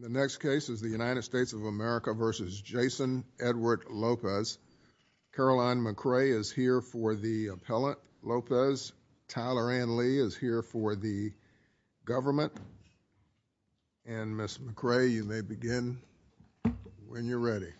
Caroline McRae is here for the appellant, Lopez. Tyler Ann Lee is here for the government. And Ms. McRae, you may begin when you're ready.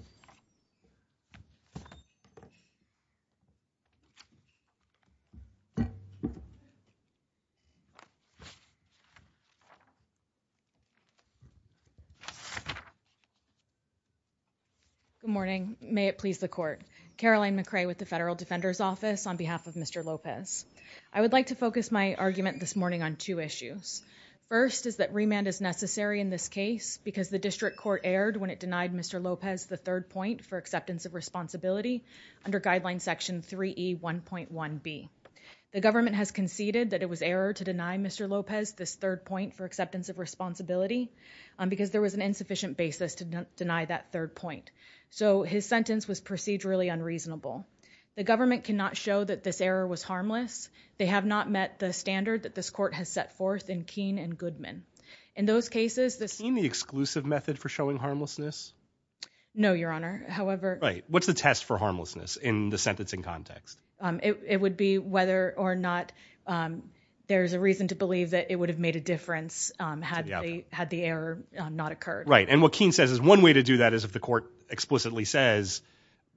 Good morning. May it please the court. Caroline McRae with the Federal Defender's Office on behalf of Mr. Lopez. I would like to focus my argument this morning on two issues. First is that remand is necessary in this case because the district court erred when it denied Mr. Lopez the third point for acceptance of responsibility under Guideline Section 3E1.1B. The government has conceded that it was error to deny Mr. Lopez this third point for acceptance of responsibility because there was an insufficient basis to deny that third point. So his sentence was procedurally unreasonable. The government cannot show that this error was harmless. They have not met the standard that this court has set forth in Keene and Goodman. In those your honor. However, what's the test for harmlessness in the sentencing context? It would be whether or not there's a reason to believe that it would have made a difference had they had the error not occurred. Right. And what Keene says is one way to do that is if the court explicitly says,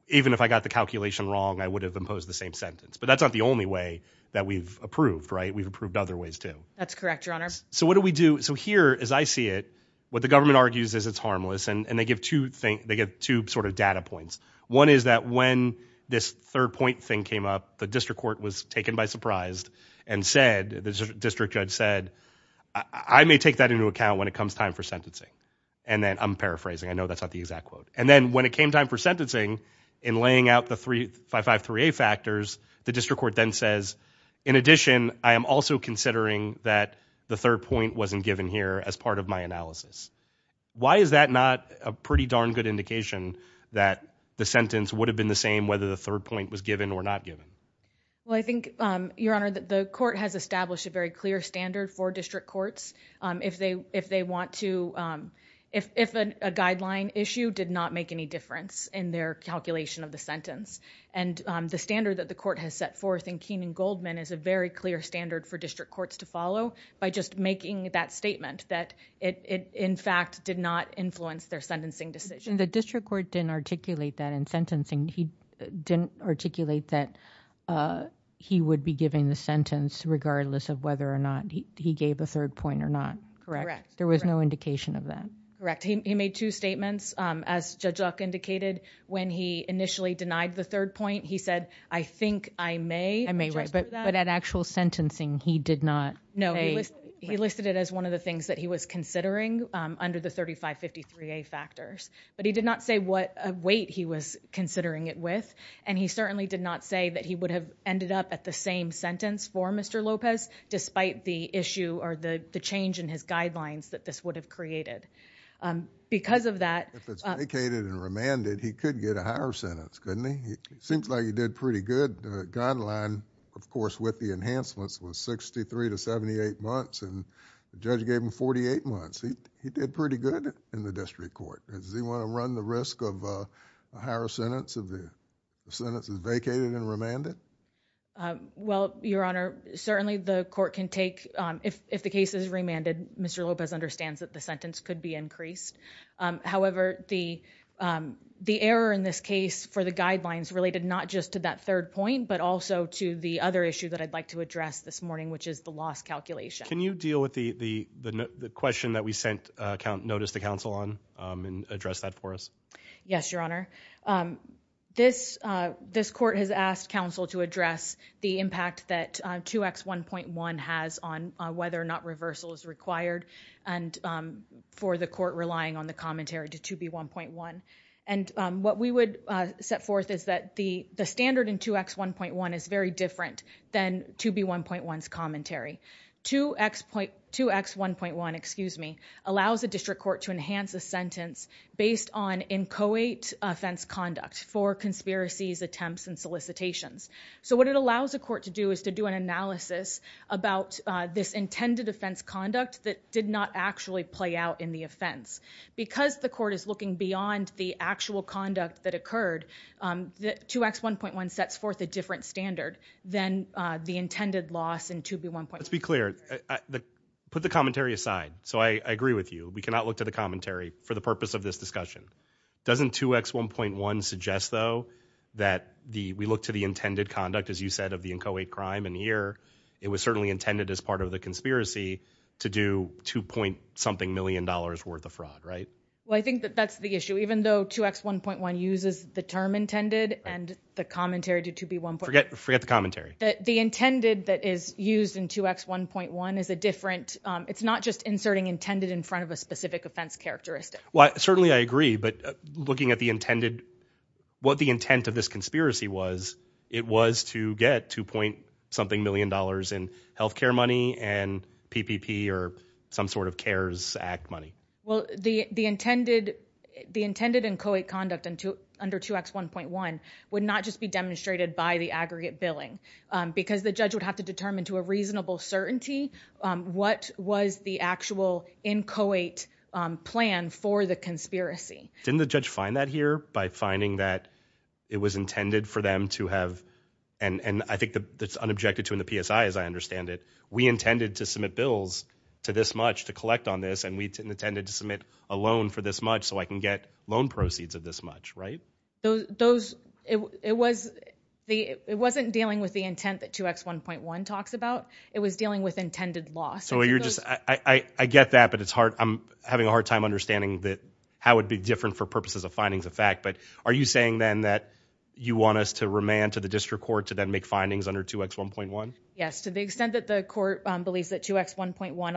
even if I got the calculation wrong, I would have imposed the same sentence. But that's not the only way that we've approved, right? We've approved other ways, too. That's correct, your honor. So what do we do? So here, as I see it, what the government argues is it's harmless. And they give two things. They get two sort of data points. One is that when this third point thing came up, the district court was taken by surprise and said the district judge said, I may take that into account when it comes time for sentencing. And then I'm paraphrasing. I know that's not the exact quote. And then when it came time for sentencing in laying out the three five five three A factors, the district court then says, in addition, I am also considering that the third point wasn't given here as part of my analysis. Why is that not a pretty darn good indication that the sentence would have been the same whether the third point was given or not given? Well, I think, your honor, that the court has established a very clear standard for district courts. If they if they want to, if a guideline issue did not make any difference in their calculation of the sentence and the standard that the court has set forth in Keene and Goldman is a very clear standard for district courts to follow by just making that statement that it in fact did not influence their sentencing decision. The district court didn't articulate that in sentencing. He didn't articulate that he would be giving the sentence regardless of whether or not he gave a third point or not correct. There was no indication of that. Correct. He made two statements. As Judge Luck indicated when he initially denied the third point, he said, I think I may. I may not. No, he listed it as one of the things that he was considering under the 3553A factors, but he did not say what weight he was considering it with, and he certainly did not say that he would have ended up at the same sentence for Mr. Lopez despite the issue or the change in his guidelines that this would have created. Because of that. If it's vacated and remanded, he could get a higher sentence, couldn't he? Seems like he did pretty good. The guideline, of course, with the enhancements was 63 to 78 months, and the judge gave him 48 months. He did pretty good in the district court. Does he want to run the risk of a higher sentence if the sentence is vacated and remanded? Well, Your Honor, certainly the court can take, if the case is remanded, Mr. Lopez understands that the sentence could be increased. However, the error in this case for the guidelines related not just to that third point, but to the other issue that I'd like to address this morning, which is the loss calculation. Can you deal with the question that we sent notice to counsel on and address that for us? Yes, Your Honor. This court has asked counsel to address the impact that 2X1.1 has on whether or not reversal is required and for the court relying on the commentary to 2B1.1. And what we would set forth is that the standard in 2X1.1 is very different than 2B1.1's commentary. 2X1.1 allows the district court to enhance a sentence based on inchoate offense conduct for conspiracies, attempts, and solicitations. So what it allows the court to do is to do an analysis about this intended offense conduct that did not actually play out in the offense. Because the court is that 2X1.1 sets forth a different standard than the intended loss in 2B1.1. Let's be clear. Put the commentary aside. So I agree with you. We cannot look to the commentary for the purpose of this discussion. Doesn't 2X1.1 suggest, though, that we look to the intended conduct, as you said, of the inchoate crime. And here, it was certainly intended as part of the conspiracy to do two point something million dollars worth of fraud, right? Well, I think that that's the issue. Even though 2X1.1 uses the term intended and the commentary to 2B1.1. Forget the commentary. The intended that is used in 2X1.1 is a different, it's not just inserting intended in front of a specific offense characteristic. Well, certainly I agree. But looking at the intended, what the intent of this conspiracy was, it was to get two point something million dollars in health care money and PPP or some sort of CARES Act money. Well, the intended inchoate conduct under 2X1.1 would not just be demonstrated by the aggregate billing because the judge would have to determine to a reasonable certainty what was the actual inchoate plan for the conspiracy. Didn't the judge find that here by finding that it was intended for them to have, and I think that's unobjected to in the PSI as I understand it, we intended to a loan for this much so I can get loan proceeds of this much, right? It wasn't dealing with the intent that 2X1.1 talks about. It was dealing with intended loss. So you're just, I get that, but it's hard. I'm having a hard time understanding that how it'd be different for purposes of findings of fact. But are you saying then that you want us to remand to the district court to then make findings under 2X1.1? Yes. To the extent that the court believes that 2X1.1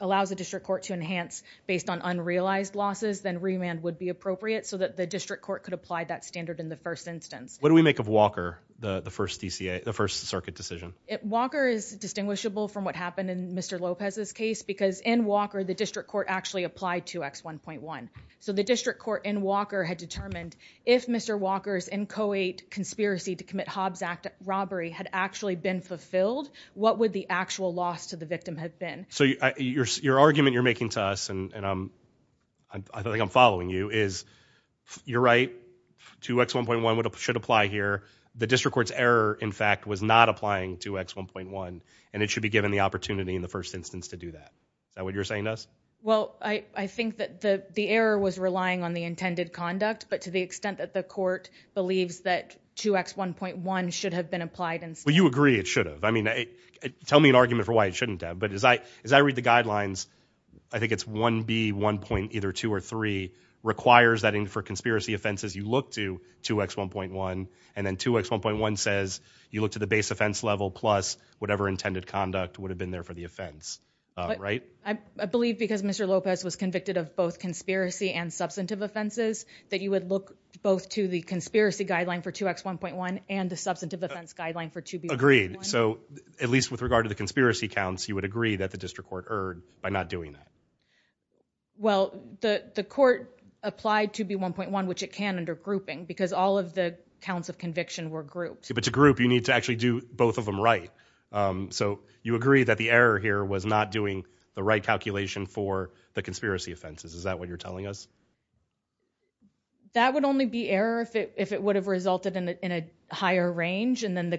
allows the district court to enhance based on unrealized losses, then remand would be appropriate so that the district court could apply that standard in the first instance. What do we make of Walker, the first DCA, the first circuit decision? Walker is distinguishable from what happened in Mr. Lopez's case because in Walker the district court actually applied 2X1.1. So the district court in Walker had determined if Mr. Walker's inchoate conspiracy to commit Hobbs Act robbery had actually been fulfilled, what would the actual loss to the victim have been? So your argument you're making to us, and I think I'm following you, is you're right, 2X1.1 should apply here. The district court's error, in fact, was not applying 2X1.1, and it should be given the opportunity in the first instance to do that. Is that what you're saying to us? Well, I think that the error was relying on the intended conduct, but to the extent that the court believes that 2X1.1 should have been applied in... Well, you agree it should have. I mean, tell me an argument for why it shouldn't have, but as I read the guidelines, I think it's 1B1.2 or 3 requires that for conspiracy offenses you look to 2X1.1, and then 2X1.1 says you look to the base offense level plus whatever intended conduct would have been there for the offense, right? I believe because Mr. Lopez was convicted of both conspiracy and substantive offenses that you would look both to the conspiracy guideline for 2X1.1 and the substantive offense guideline for 2B1.1. Agreed. So at least with regard to conspiracy counts, you would agree that the district court erred by not doing that. Well, the court applied 2B1.1, which it can under grouping, because all of the counts of conviction were grouped. But to group, you need to actually do both of them right. So you agree that the error here was not doing the right calculation for the conspiracy offenses. Is that what you're telling us? That would only be error if it would have resulted in a higher range, and then the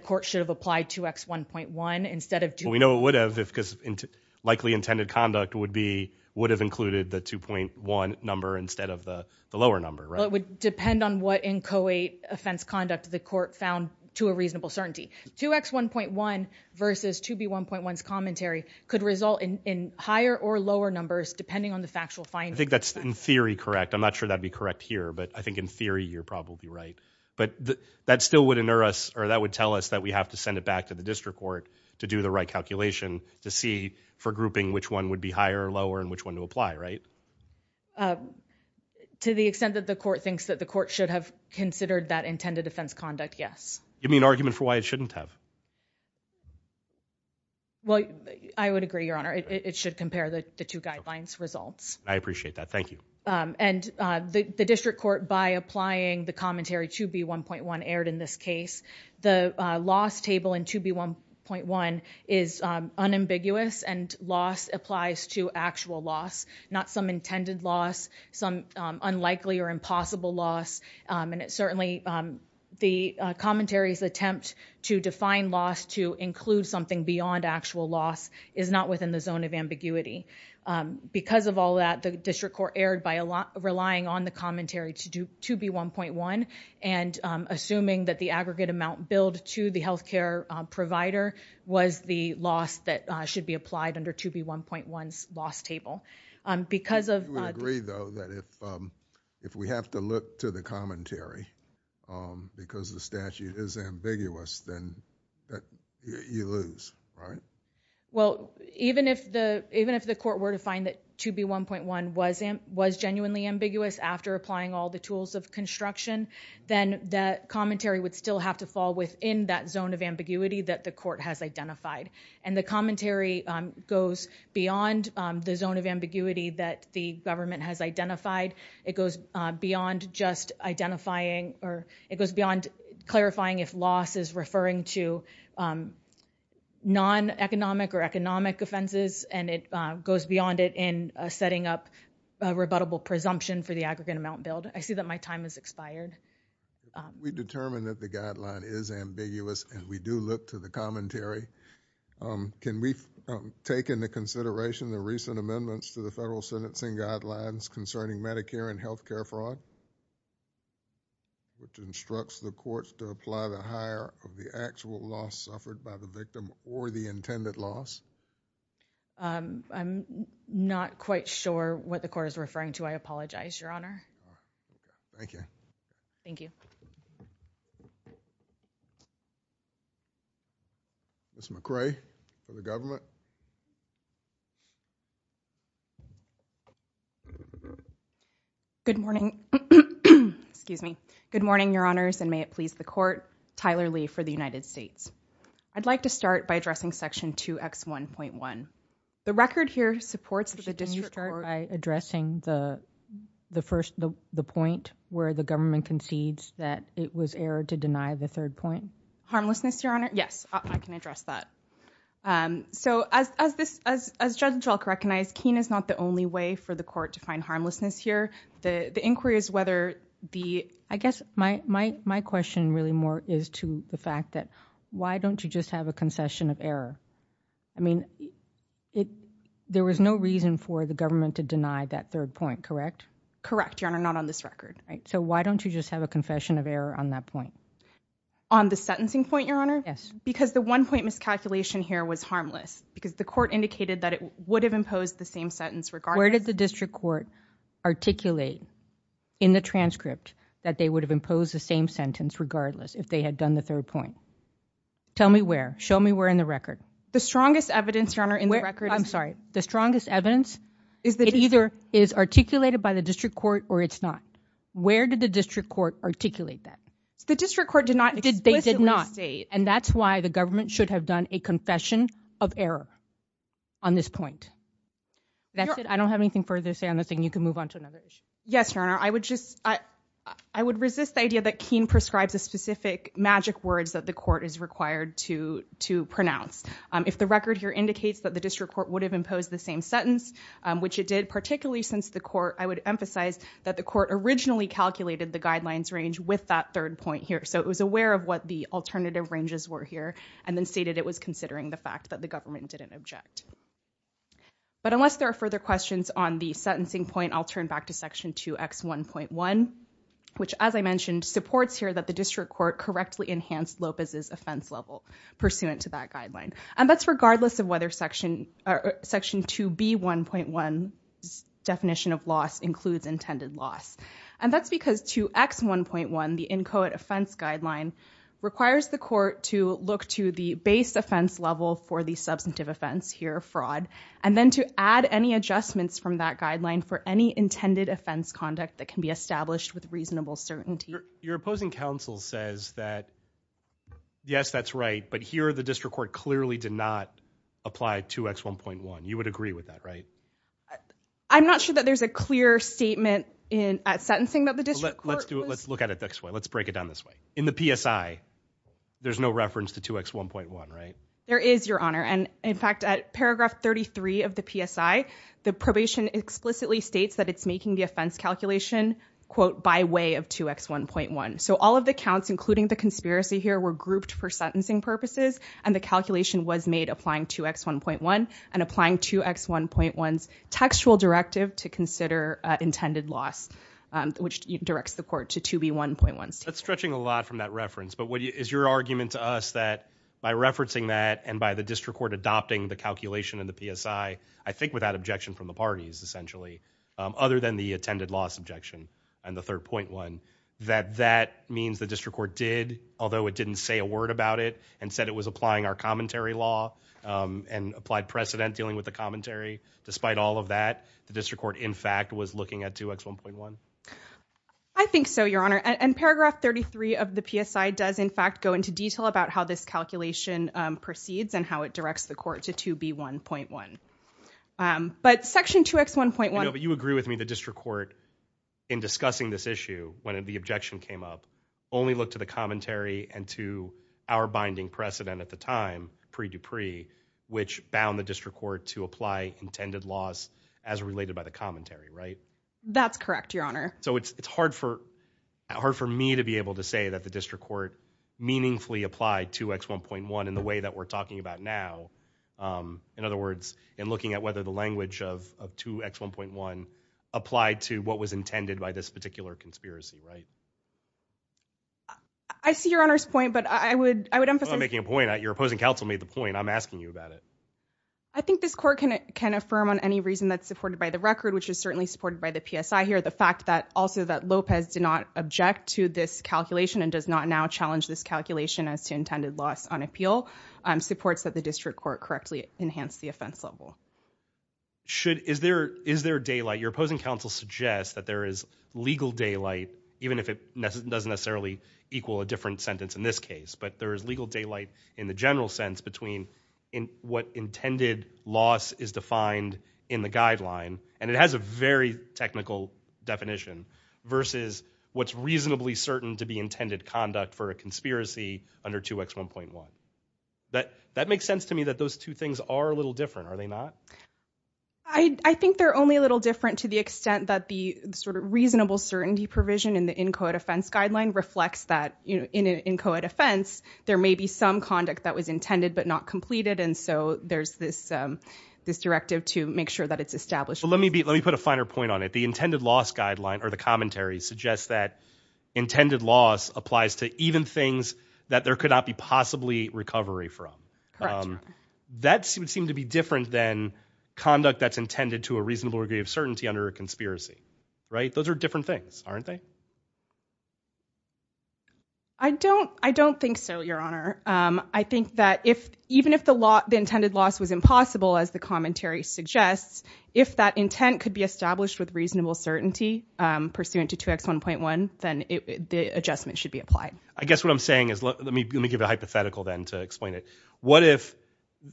would have, because likely intended conduct would have included the 2.1 number instead of the lower number. Well, it would depend on what inchoate offense conduct the court found to a reasonable certainty. 2X1.1 versus 2B1.1's commentary could result in higher or lower numbers depending on the factual finding. I think that's in theory correct. I'm not sure that'd be correct here, but I think in theory you're probably right. But that still would tell us that we have to back to the district court to do the right calculation to see for grouping which one would be higher or lower and which one to apply, right? To the extent that the court thinks that the court should have considered that intended offense conduct, yes. Give me an argument for why it shouldn't have. Well, I would agree, Your Honor. It should compare the two guidelines results. I appreciate that. Thank you. And the district court, by applying the commentary 2B1.1 aired in this case, the loss table in 2B1.1 is unambiguous and loss applies to actual loss, not some intended loss, some unlikely or impossible loss. And it's certainly the commentary's attempt to define loss to include something beyond actual loss is not within the zone of ambiguity. Because of all that, the district court aired by relying on the commentary to do 2B1.1 and assuming that the aggregate amount billed to the health care provider was the loss that should be applied under 2B1.1's loss table. Do we agree, though, that if we have to look to the commentary because the statute is ambiguous, then you lose, right? Well, even if the after applying all the tools of construction, then that commentary would still have to fall within that zone of ambiguity that the court has identified. And the commentary goes beyond the zone of ambiguity that the government has identified. It goes beyond just identifying or it goes beyond clarifying if loss is referring to non-economic or economic offenses. And it I see that my time has expired. We determined that the guideline is ambiguous and we do look to the commentary. Can we take into consideration the recent amendments to the federal sentencing guidelines concerning Medicare and health care fraud, which instructs the courts to apply the higher of the actual loss suffered by the victim or the intended loss? I'm not quite sure what the court is referring to. I apologize, Your Honor. Thank you. Thank you. Ms. McRae for the government. Good morning. Excuse me. Good morning, Your Honors, and may it please the court. Tyler Lee for the United States. I'd like to start by addressing Section 2X1.1. The record here supports the district court. Can you start by addressing the point where the government concedes that it was error to deny the third point? Harmlessness, Your Honor. Yes, I can address that. So as Judge Jelk recognized, keen is not the only way for the court to find harmlessness here. The inquiry is whether the I guess my question really is to the fact that why don't you just have a concession of error? I mean, there was no reason for the government to deny that third point, correct? Correct, Your Honor. Not on this record, right? So why don't you just have a confession of error on that point? On the sentencing point, Your Honor? Yes. Because the one point miscalculation here was harmless because the court indicated that it would have imposed the same sentence regardless. Where did the district court articulate in the transcript that they would have imposed the sentence regardless if they had done the third point? Tell me where. Show me where in the record. The strongest evidence, Your Honor, in the record. I'm sorry. The strongest evidence is that either is articulated by the district court or it's not. Where did the district court articulate that? The district court did not. They did not. And that's why the government should have done a confession of error on this point. That's it. I don't have anything further to say on this thing. You can move on to another issue. Yes, Your Honor. I would just I would resist the keen prescribes a specific magic words that the court is required to to pronounce. If the record here indicates that the district court would have imposed the same sentence, which it did, particularly since the court, I would emphasize that the court originally calculated the guidelines range with that third point here. So it was aware of what the alternative ranges were here and then stated it was considering the fact that the government didn't object. But unless there are further questions on the sentencing point, I'll turn back to section 2x1.1, which, as I mentioned, supports here that the district court correctly enhanced Lopez's offense level pursuant to that guideline. And that's regardless of whether section section 2b1.1 definition of loss includes intended loss. And that's because 2x1.1, the inchoate offense guideline, requires the court to look to the base offense level for the substantive offense here, fraud, and then to add any adjustments from that guideline for any intended offense conduct that can be established with reasonable certainty. Your opposing counsel says that, yes, that's right. But here, the district court clearly did not apply 2x1.1. You would agree with that, right? I'm not sure that there's a clear statement in sentencing that the district court. Let's do it. Let's look at it this way. Let's break it down this way. In the PSI, there's no reference to 2x1.1, right? There is, your honor. And in fact, at paragraph 33 of the PSI, the probation explicitly states that it's making the offense calculation, quote, by way of 2x1.1. So all of the counts, including the conspiracy here, were grouped for sentencing purposes. And the calculation was made applying 2x1.1 and applying 2x1.1's textual directive to consider intended loss, which directs the court to 2b1.1. That's stretching a lot from that reference. But is your argument to us that by referencing that and by the district court adopting the calculation in the PSI, I think without objection from the parties essentially, other than the intended loss objection and the 3rd.1, that that means the district court did, although it didn't say a word about it, and said it was applying our commentary law and applied precedent dealing with the commentary, despite all of that, the district court in fact was looking at 2x1.1? I think so, your honor. And paragraph 33 of the 1.1. But section 2x1.1. But you agree with me, the district court in discussing this issue, when the objection came up, only looked to the commentary and to our binding precedent at the time, pre Dupree, which bound the district court to apply intended loss as related by the commentary, right? That's correct, your honor. So it's hard for hard for me to be able to say that the district court meaningfully applied 2x1.1 in the way that we're talking about now. In other words, in looking at whether the language of 2x1.1 applied to what was intended by this particular conspiracy, right? I see your honor's point, but I would I would emphasize making a point that your opposing counsel made the point I'm asking you about it. I think this court can affirm on any reason that's supported by the record, which is certainly supported by the PSI here. The fact that also that Lopez did not object to this calculation and does not now challenge this calculation as to intended loss on appeal supports that the district court correctly enhanced the offense level. Should is there is there daylight? Your opposing counsel suggests that there is legal daylight, even if it doesn't necessarily equal a different sentence in this case. But there is legal daylight in the general sense between in what intended loss is defined in the guideline. And it has a very technical definition versus what's reasonably certain to be intended conduct for a conspiracy under 2x1.1. That that makes sense to me that those two things are a little different, are they not? I think they're only a little different to the extent that the sort of reasonable certainty provision in the inchoate offense guideline reflects that, you know, in an inchoate offense, there may be some conduct that was intended but not completed. And so there's this this directive to make sure that it's established. Let me be let me put a finer point on it. The intended loss guideline or the commentary suggests that intended loss applies to even things that there could not be possibly recovery from. That would seem to be different than conduct that's intended to a reasonable degree of certainty under a conspiracy. Right. Those are different things, aren't they? I don't I don't think so, Your Honor. I think that if even if the law the intended loss was impossible, as the commentary suggests, if that intent could be established with reasonable certainty pursuant to 2x1.1, then the adjustment should be applied. I guess what I'm saying is let me give a hypothetical then to explain it. What if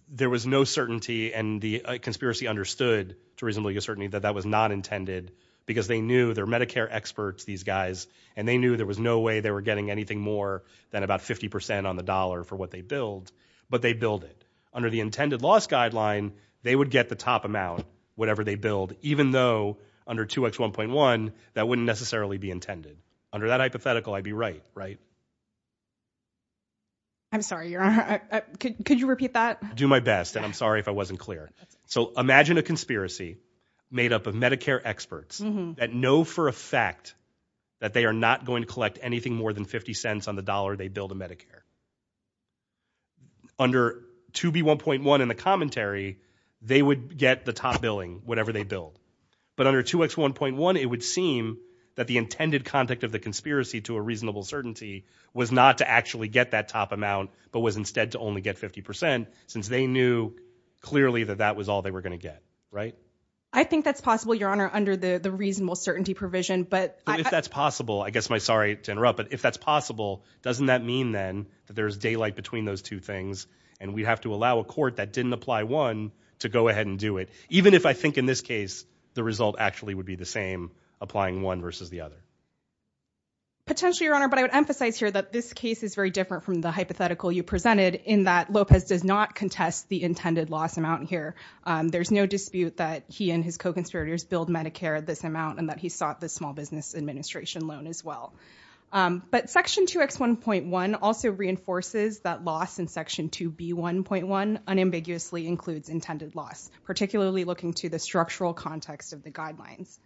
there was no certainty and the conspiracy understood to reasonably uncertainty that that was not intended because they knew their Medicare experts, these guys, and they knew there was no way they were getting anything more than about 50 percent on the dollar for what they build, but they build it under the intended loss guideline, they would get the top amount, whatever they build, even though under 2x1.1, that wouldn't necessarily be intended. Under that hypothetical, I'd be right, right? I'm sorry, Your Honor. Could you repeat that? Do my best. And I'm sorry if I wasn't clear. So imagine a conspiracy made up of Medicare experts that know for a fact that they are not going to collect anything more than 50 cents on the dollar they build a Medicare. Under 2b1.1 in the commentary, they would get the top billing, whatever they build. But under 2x1.1, it would seem that the intended conduct of the conspiracy to a reasonable certainty was not to actually get that top amount, but was instead to only get 50 percent since they knew clearly that that was all they were going to get, right? I think that's possible, Your Honor, under the reasonable certainty provision. But if that's possible, I guess my sorry to interrupt, but if that's possible, doesn't that mean then that there's daylight between those two things and we have to allow a court that didn't apply one to go ahead and do it, even if I think in this case the result actually would be the same applying one versus the other? Potentially, Your Honor, but I would emphasize here that this case is very different from the hypothetical you presented in that Lopez does not contest the intended loss amount here. There's no dispute that he and his co-conspirators build Medicare at this amount and that he sought the small business administration loan as well. But section 2x1.1 also reinforces that loss in section 2b1.1 unambiguously includes intended loss, particularly looking to the structural context of the guidelines.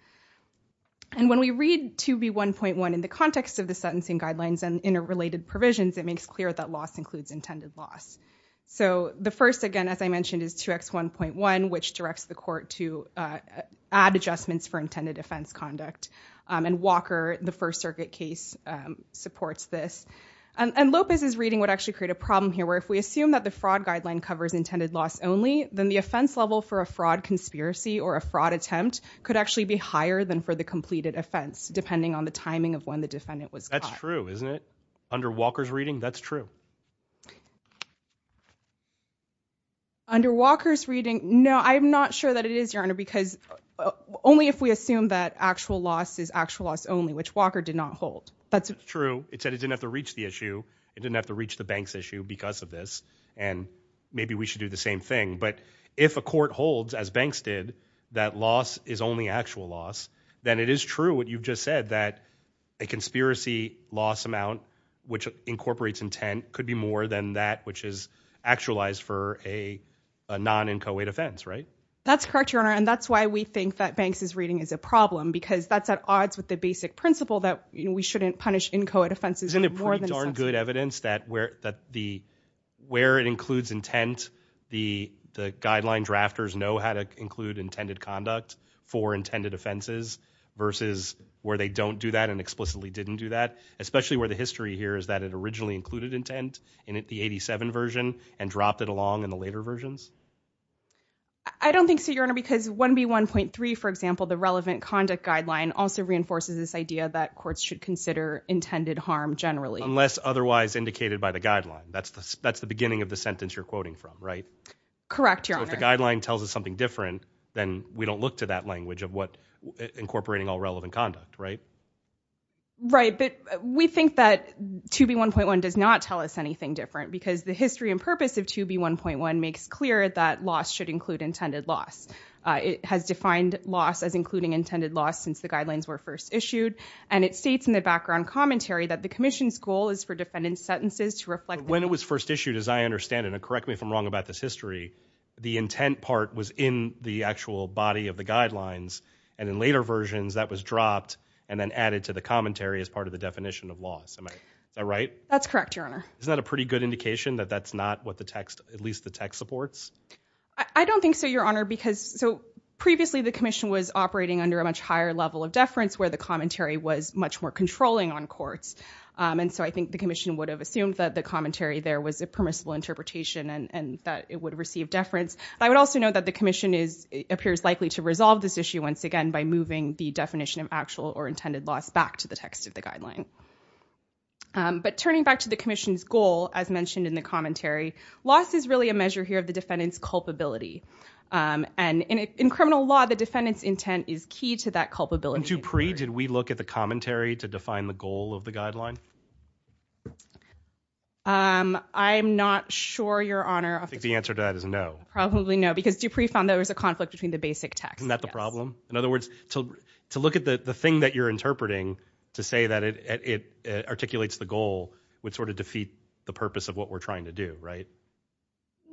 And when we read 2b1.1 in the context of the sentencing guidelines and interrelated provisions, it makes clear that loss includes intended loss. So the first, again, as I mentioned, is 2x1.1, which directs the court to add adjustments for intended offense conduct. And Walker, the First Circuit case, supports this. And Lopez's reading would actually create a problem here, where if we assume that the fraud guideline covers intended loss only, then the offense level for a fraud conspiracy or a fraud attempt could actually be higher than for the completed offense, depending on the timing of when the defendant was caught. That's true, isn't it? Under Walker's reading, that's true. Under Walker's reading, no, I'm not sure that it is, Your Honor, because only if we assume that actual loss is actual loss only, which Walker did not hold. That's true. It said it didn't have to reach the issue. It didn't have to reach the bank's issue because of this. And maybe we should do the same thing. But if a court holds, as banks did, that loss is only actual loss, then it is true what you've just said, that a conspiracy loss amount, which incorporates intent, could be more than that which is actualized for a non-NCOA defense, right? That's correct, Your Honor. And that's why we think that Banks' reading is a problem, because that's at odds with the basic principle that we shouldn't punish NCOA offenses for more than a sentence. Isn't it pretty darn good evidence that where it includes intent, the guideline drafters know how to include intended conduct for intended offenses versus where they don't do that and explicitly didn't do that, especially where the history here is that it originally included intent in the 87 version and dropped it along in the later versions? I don't think so, Your Honor, because 1B1.3, for example, the relevant conduct guideline also reinforces this idea that courts should consider intended harm generally. Unless otherwise indicated by the guideline. That's the beginning of the sentence you're quoting from, right? Correct, Your Honor. So if the guideline tells us something different, then we don't look to that language of incorporating all relevant conduct, right? Right, but we think that 2B1.1 does not tell us anything different because the history and purpose of 2B1.1 makes clear that loss should include intended loss. It has defined loss as including intended loss since the guidelines were first issued, and it states in the background commentary that the Commission's goal is for defendant's sentences to reflect... When it was first issued, as I understand it, and correct me if I'm wrong about this history, the intent part was in the actual body of the guidelines, and in later versions, that was dropped and then added to the commentary as part of the definition of loss. Is that right? That's correct, Your Honor. Isn't that a pretty good indication that that's not what at least the text supports? I don't think so, Your Honor, because previously the Commission was operating under a much higher level of deference where the commentary was much more controlling on courts, and so I think the Commission would have assumed that the commentary there was a permissible interpretation and that it would receive deference. I would also note that the Commission appears likely to resolve this issue once again by moving the definition of actual or intended loss back to the text of the guideline. But turning back to the Commission's goal, as mentioned in the commentary, loss is really a measure here of the defendant's culpability, and in criminal law, the defendant's intent is key to that culpability. And to pre, did we look at the commentary to define the goal of the guideline? I'm not sure, Your Honor. I think the answer to that is no. Probably no, because Dupree found there was a conflict between the basic text. Isn't that the problem? In other words, to look at the thing that you're interpreting to say that it articulates the goal would sort of defeat the purpose of what we're trying to do, right?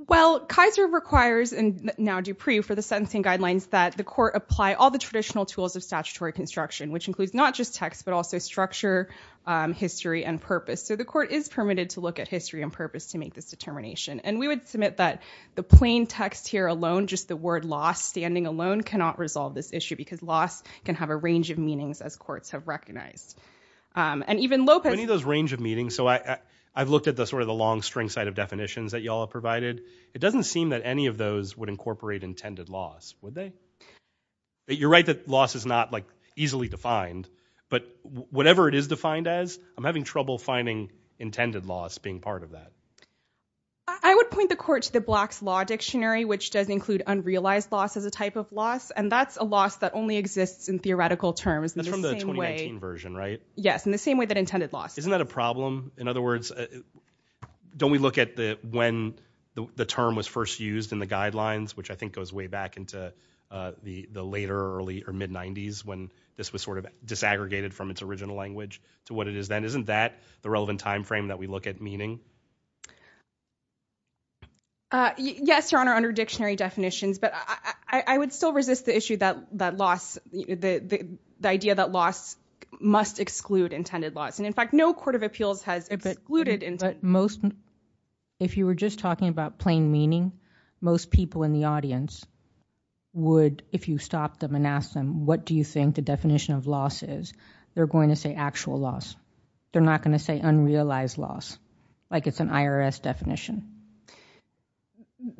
Well, Kaiser requires, and now Dupree, for the sentencing guidelines that the court apply all the traditional tools of statutory construction, which includes not just text but also structure, history, and purpose. So the court is permitted to look at history and purpose to make this determination. And we would submit that the plain text here alone, just the word loss standing alone, cannot resolve this issue, because loss can have a range of meanings as courts have recognized. And even Lopez- Any of those range of meanings, so I've looked at the sort of the long string side of definitions that y'all have provided. It doesn't seem that any of those would incorporate intended loss, would they? You're right that loss is not like easily defined, but whatever it is defined as, I'm having trouble finding intended loss being part of that. I would point the court to the Black's Law Dictionary, which does include unrealized loss as a type of loss, and that's a loss that only exists in theoretical terms. That's from the 2019 version, right? Yes, in the same way that intended loss. Isn't that a problem? In other words, don't we look at the when the term was first used in the guidelines, which I think goes way back into the later early or mid-90s when this was sort of disaggregated from its original language to what it is then. Isn't that the relevant time frame that we look at meaning? Yes, Your Honor, under dictionary definitions, but I would still resist the issue that loss, the idea that loss must exclude intended loss. And in fact, no court of appeals has excluded intended loss. But most, if you were just talking about plain meaning, most people in the audience would, if you stopped them and asked them, what do you think the definition of loss is, they're going to say actual loss. They're not going to say unrealized loss, like it's an IRS definition.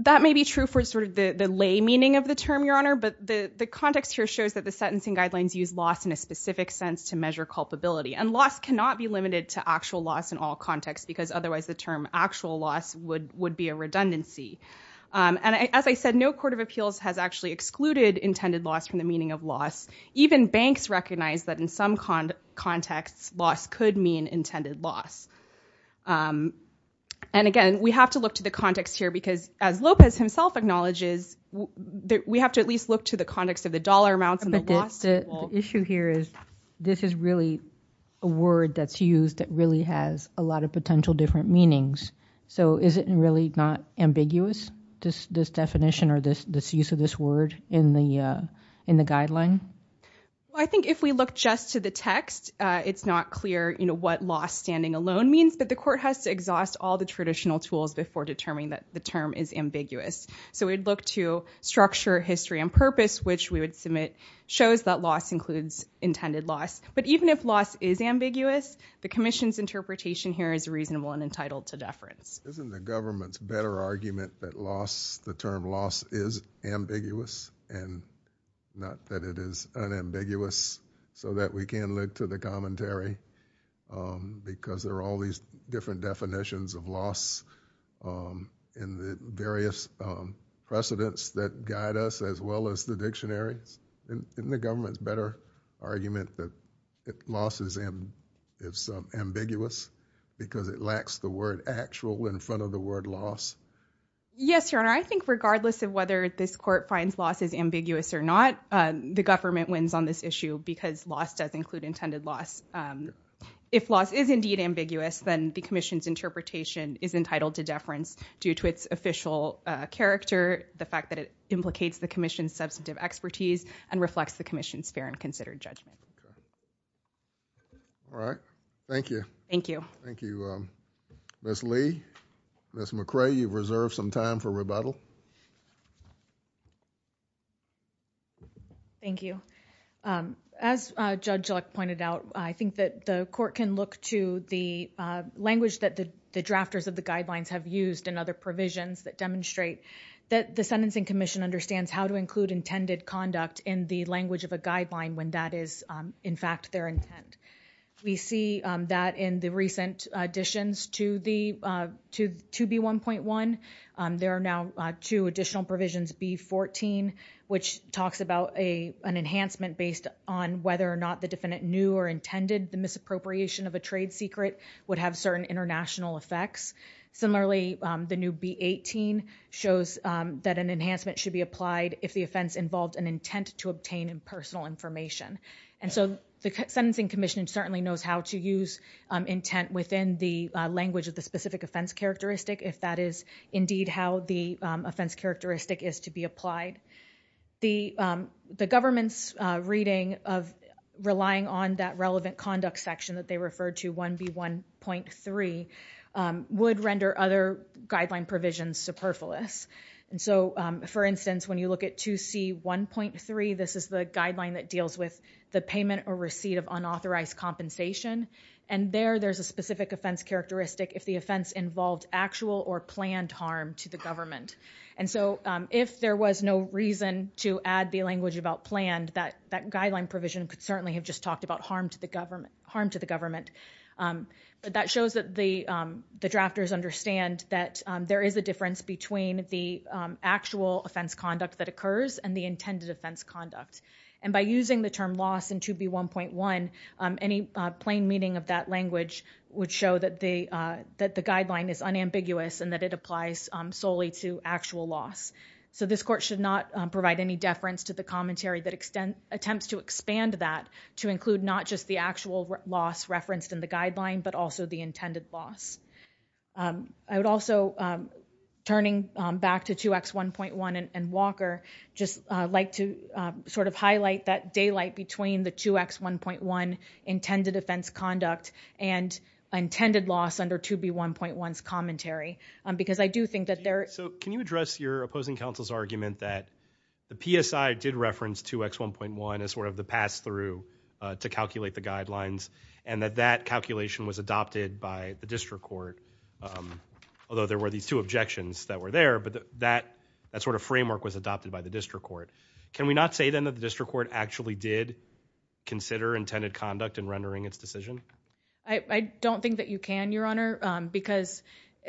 That may be true for sort of the lay meaning of the term, Your Honor, but the context here shows that the sentencing guidelines use loss in a specific sense to measure culpability. And loss cannot be limited to actual loss in all contexts, because otherwise the term actual loss would be a redundancy. And as I said, no court of appeals has actually excluded intended loss from the meaning of loss. Even banks recognize that in some contexts, loss could mean intended loss. And again, we have to look to the context here, because as Lopez himself acknowledges, we have to at least look to the context of the dollar amounts and the loss. The issue here is, this is really a word that's used that really has a lot of potential different meanings. So is it really not ambiguous, this definition or this use of this word in the guideline? I think if we look just to the text, it's not clear what loss standing alone means, but the court has to exhaust all the traditional tools before determining that the term is intended loss. But even if loss is ambiguous, the commission's interpretation here is reasonable and entitled to deference. Isn't the government's better argument that the term loss is ambiguous, and not that it is unambiguous, so that we can look to the commentary, because there are all these different definitions of loss in the various precedents that guide us, as well as the dictionaries? Isn't the government's better argument that loss is ambiguous, because it lacks the word actual in front of the word loss? Yes, Your Honor. I think regardless of whether this court finds loss is ambiguous or not, the government wins on this issue, because loss does include intended loss. If loss is indeed ambiguous, then the commission's interpretation is entitled to deference due to its official character, the fact that it implicates the commission's substantive expertise, and reflects the commission's fair and considered judgment. All right. Thank you. Thank you. Thank you, Ms. Lee. Ms. McCray, you've reserved some time for rebuttal. Thank you. As Judge Luck pointed out, I think that the court can look to the language that the drafters of the guidelines have used in other provisions that demonstrate that the Sentencing Commission understands how to include intended conduct in the language of a guideline when that is, in fact, their intent. We see that in the recent additions to B1.1. There are now two additional provisions, B14, which talks about an enhancement based on whether or not the defendant knew or intended the misappropriation of a trade secret would have international effects. Similarly, the new B18 shows that an enhancement should be applied if the offense involved an intent to obtain impersonal information. And so the Sentencing Commission certainly knows how to use intent within the language of the specific offense characteristic, if that is, indeed, how the offense characteristic is to be applied. The government's reading of relying on that relevant conduct section that they referred to 1B1.3 would render other guideline provisions superfluous. And so, for instance, when you look at 2C1.3, this is the guideline that deals with the payment or receipt of unauthorized compensation. And there, there's a specific offense characteristic if the offense involved actual or planned harm to the government. And so if there was no reason to add the language about planned, that guideline provision could certainly have just talked about harm to the government. But that shows that the drafters understand that there is a difference between the actual offense conduct that occurs and the intended offense conduct. And by using the term loss in 2B1.1, any plain meaning of that language would show that the guideline is unambiguous and that it applies solely to actual loss. So this court should not provide any deference to the commentary that attempts to expand that to include not just the actual loss referenced in the guideline, but also the intended loss. I would also, turning back to 2X1.1 and Walker, just like to sort of highlight that daylight between the 2X1.1 intended offense conduct and intended loss under 2B1.1's commentary, because I your opposing counsel's argument that the PSI did reference 2X1.1 as sort of the pass-through to calculate the guidelines and that that calculation was adopted by the district court, although there were these two objections that were there, but that sort of framework was adopted by the district court. Can we not say then that the district court actually did consider intended conduct in rendering its decision? I don't think that you can, your honor, because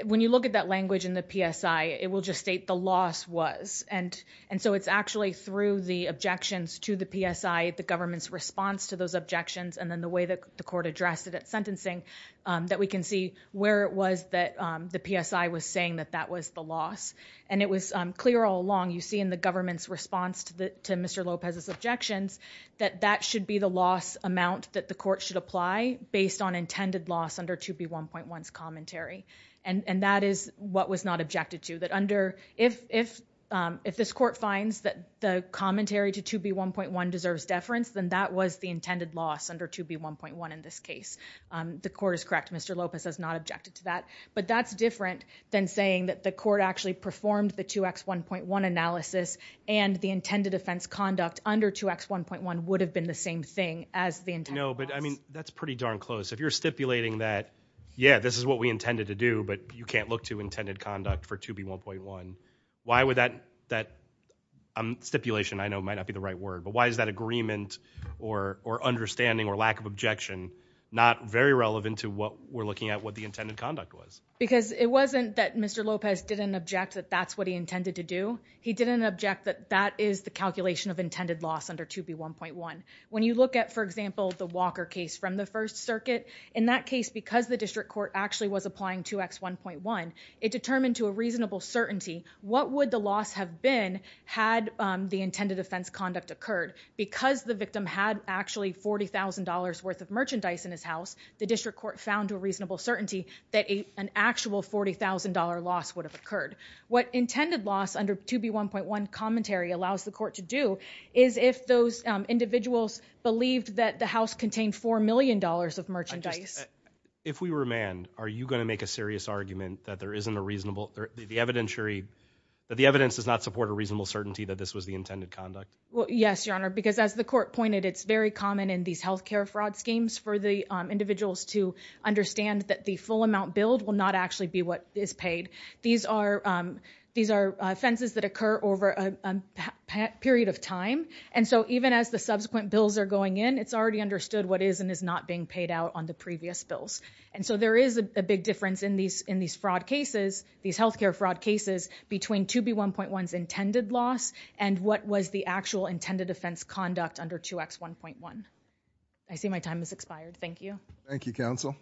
when you look at that language in the PSI, it will just state the loss was. And so it's actually through the objections to the PSI, the government's response to those objections, and then the way that the court addressed it at sentencing that we can see where it was that the PSI was saying that that was the loss. And it was clear all along, you see in the government's response to Mr. Lopez's objections, that that should be the loss amount that the court should apply based on intended loss under 2B1.1's commentary. And that is what was not objected to. That under, if this court finds that the commentary to 2B1.1 deserves deference, then that was the intended loss under 2B1.1 in this case. The court is correct, Mr. Lopez has not objected to that. But that's different than saying that the court actually performed the 2X1.1 analysis and the intended offense conduct under 2X1.1 would have been the same thing as the intent. No, but I mean that's pretty darn close. If you're stipulating that, yeah, this is what we intended to do, but you can't look to intended conduct for 2B1.1, why would that, that stipulation I know might not be the right word, but why is that agreement or understanding or lack of objection not very relevant to what we're looking at what the intended conduct was? Because it wasn't that Mr. Lopez didn't object that that's what he intended to do. He didn't object that that is the calculation of intended loss under 2B1.1. When you look at, for example, the Walker case from the First Circuit, in that case, because the district court actually was applying 2X1.1, it determined to a reasonable certainty what would the loss have been had the intended offense conduct occurred. Because the victim had actually $40,000 worth of merchandise in his house, the district court found to a reasonable certainty that an actual $40,000 loss would have occurred. What intended loss under 2B1.1 commentary allows the court to do is if those individuals believed that the house contained $4 million of merchandise. If we remand, are you going to make a serious argument that there isn't a reasonable, the evidentiary, that the evidence does not support a reasonable certainty that this was the intended conduct? Well, yes, your honor, because as the court pointed, it's very common in these health care fraud schemes for the individuals to understand that the full amount billed will not actually be what is paid. These are offenses that occur over a period of time, and so even as the subsequent bills are going in, it's already understood what is and is not being paid out on the previous bills. And so there is a big difference in these fraud cases, these health care fraud cases, between 2B1.1's intended loss and what was the actual intended offense conduct under 2X1.1. I see my time has expired. Thank you. Thank you, counsel.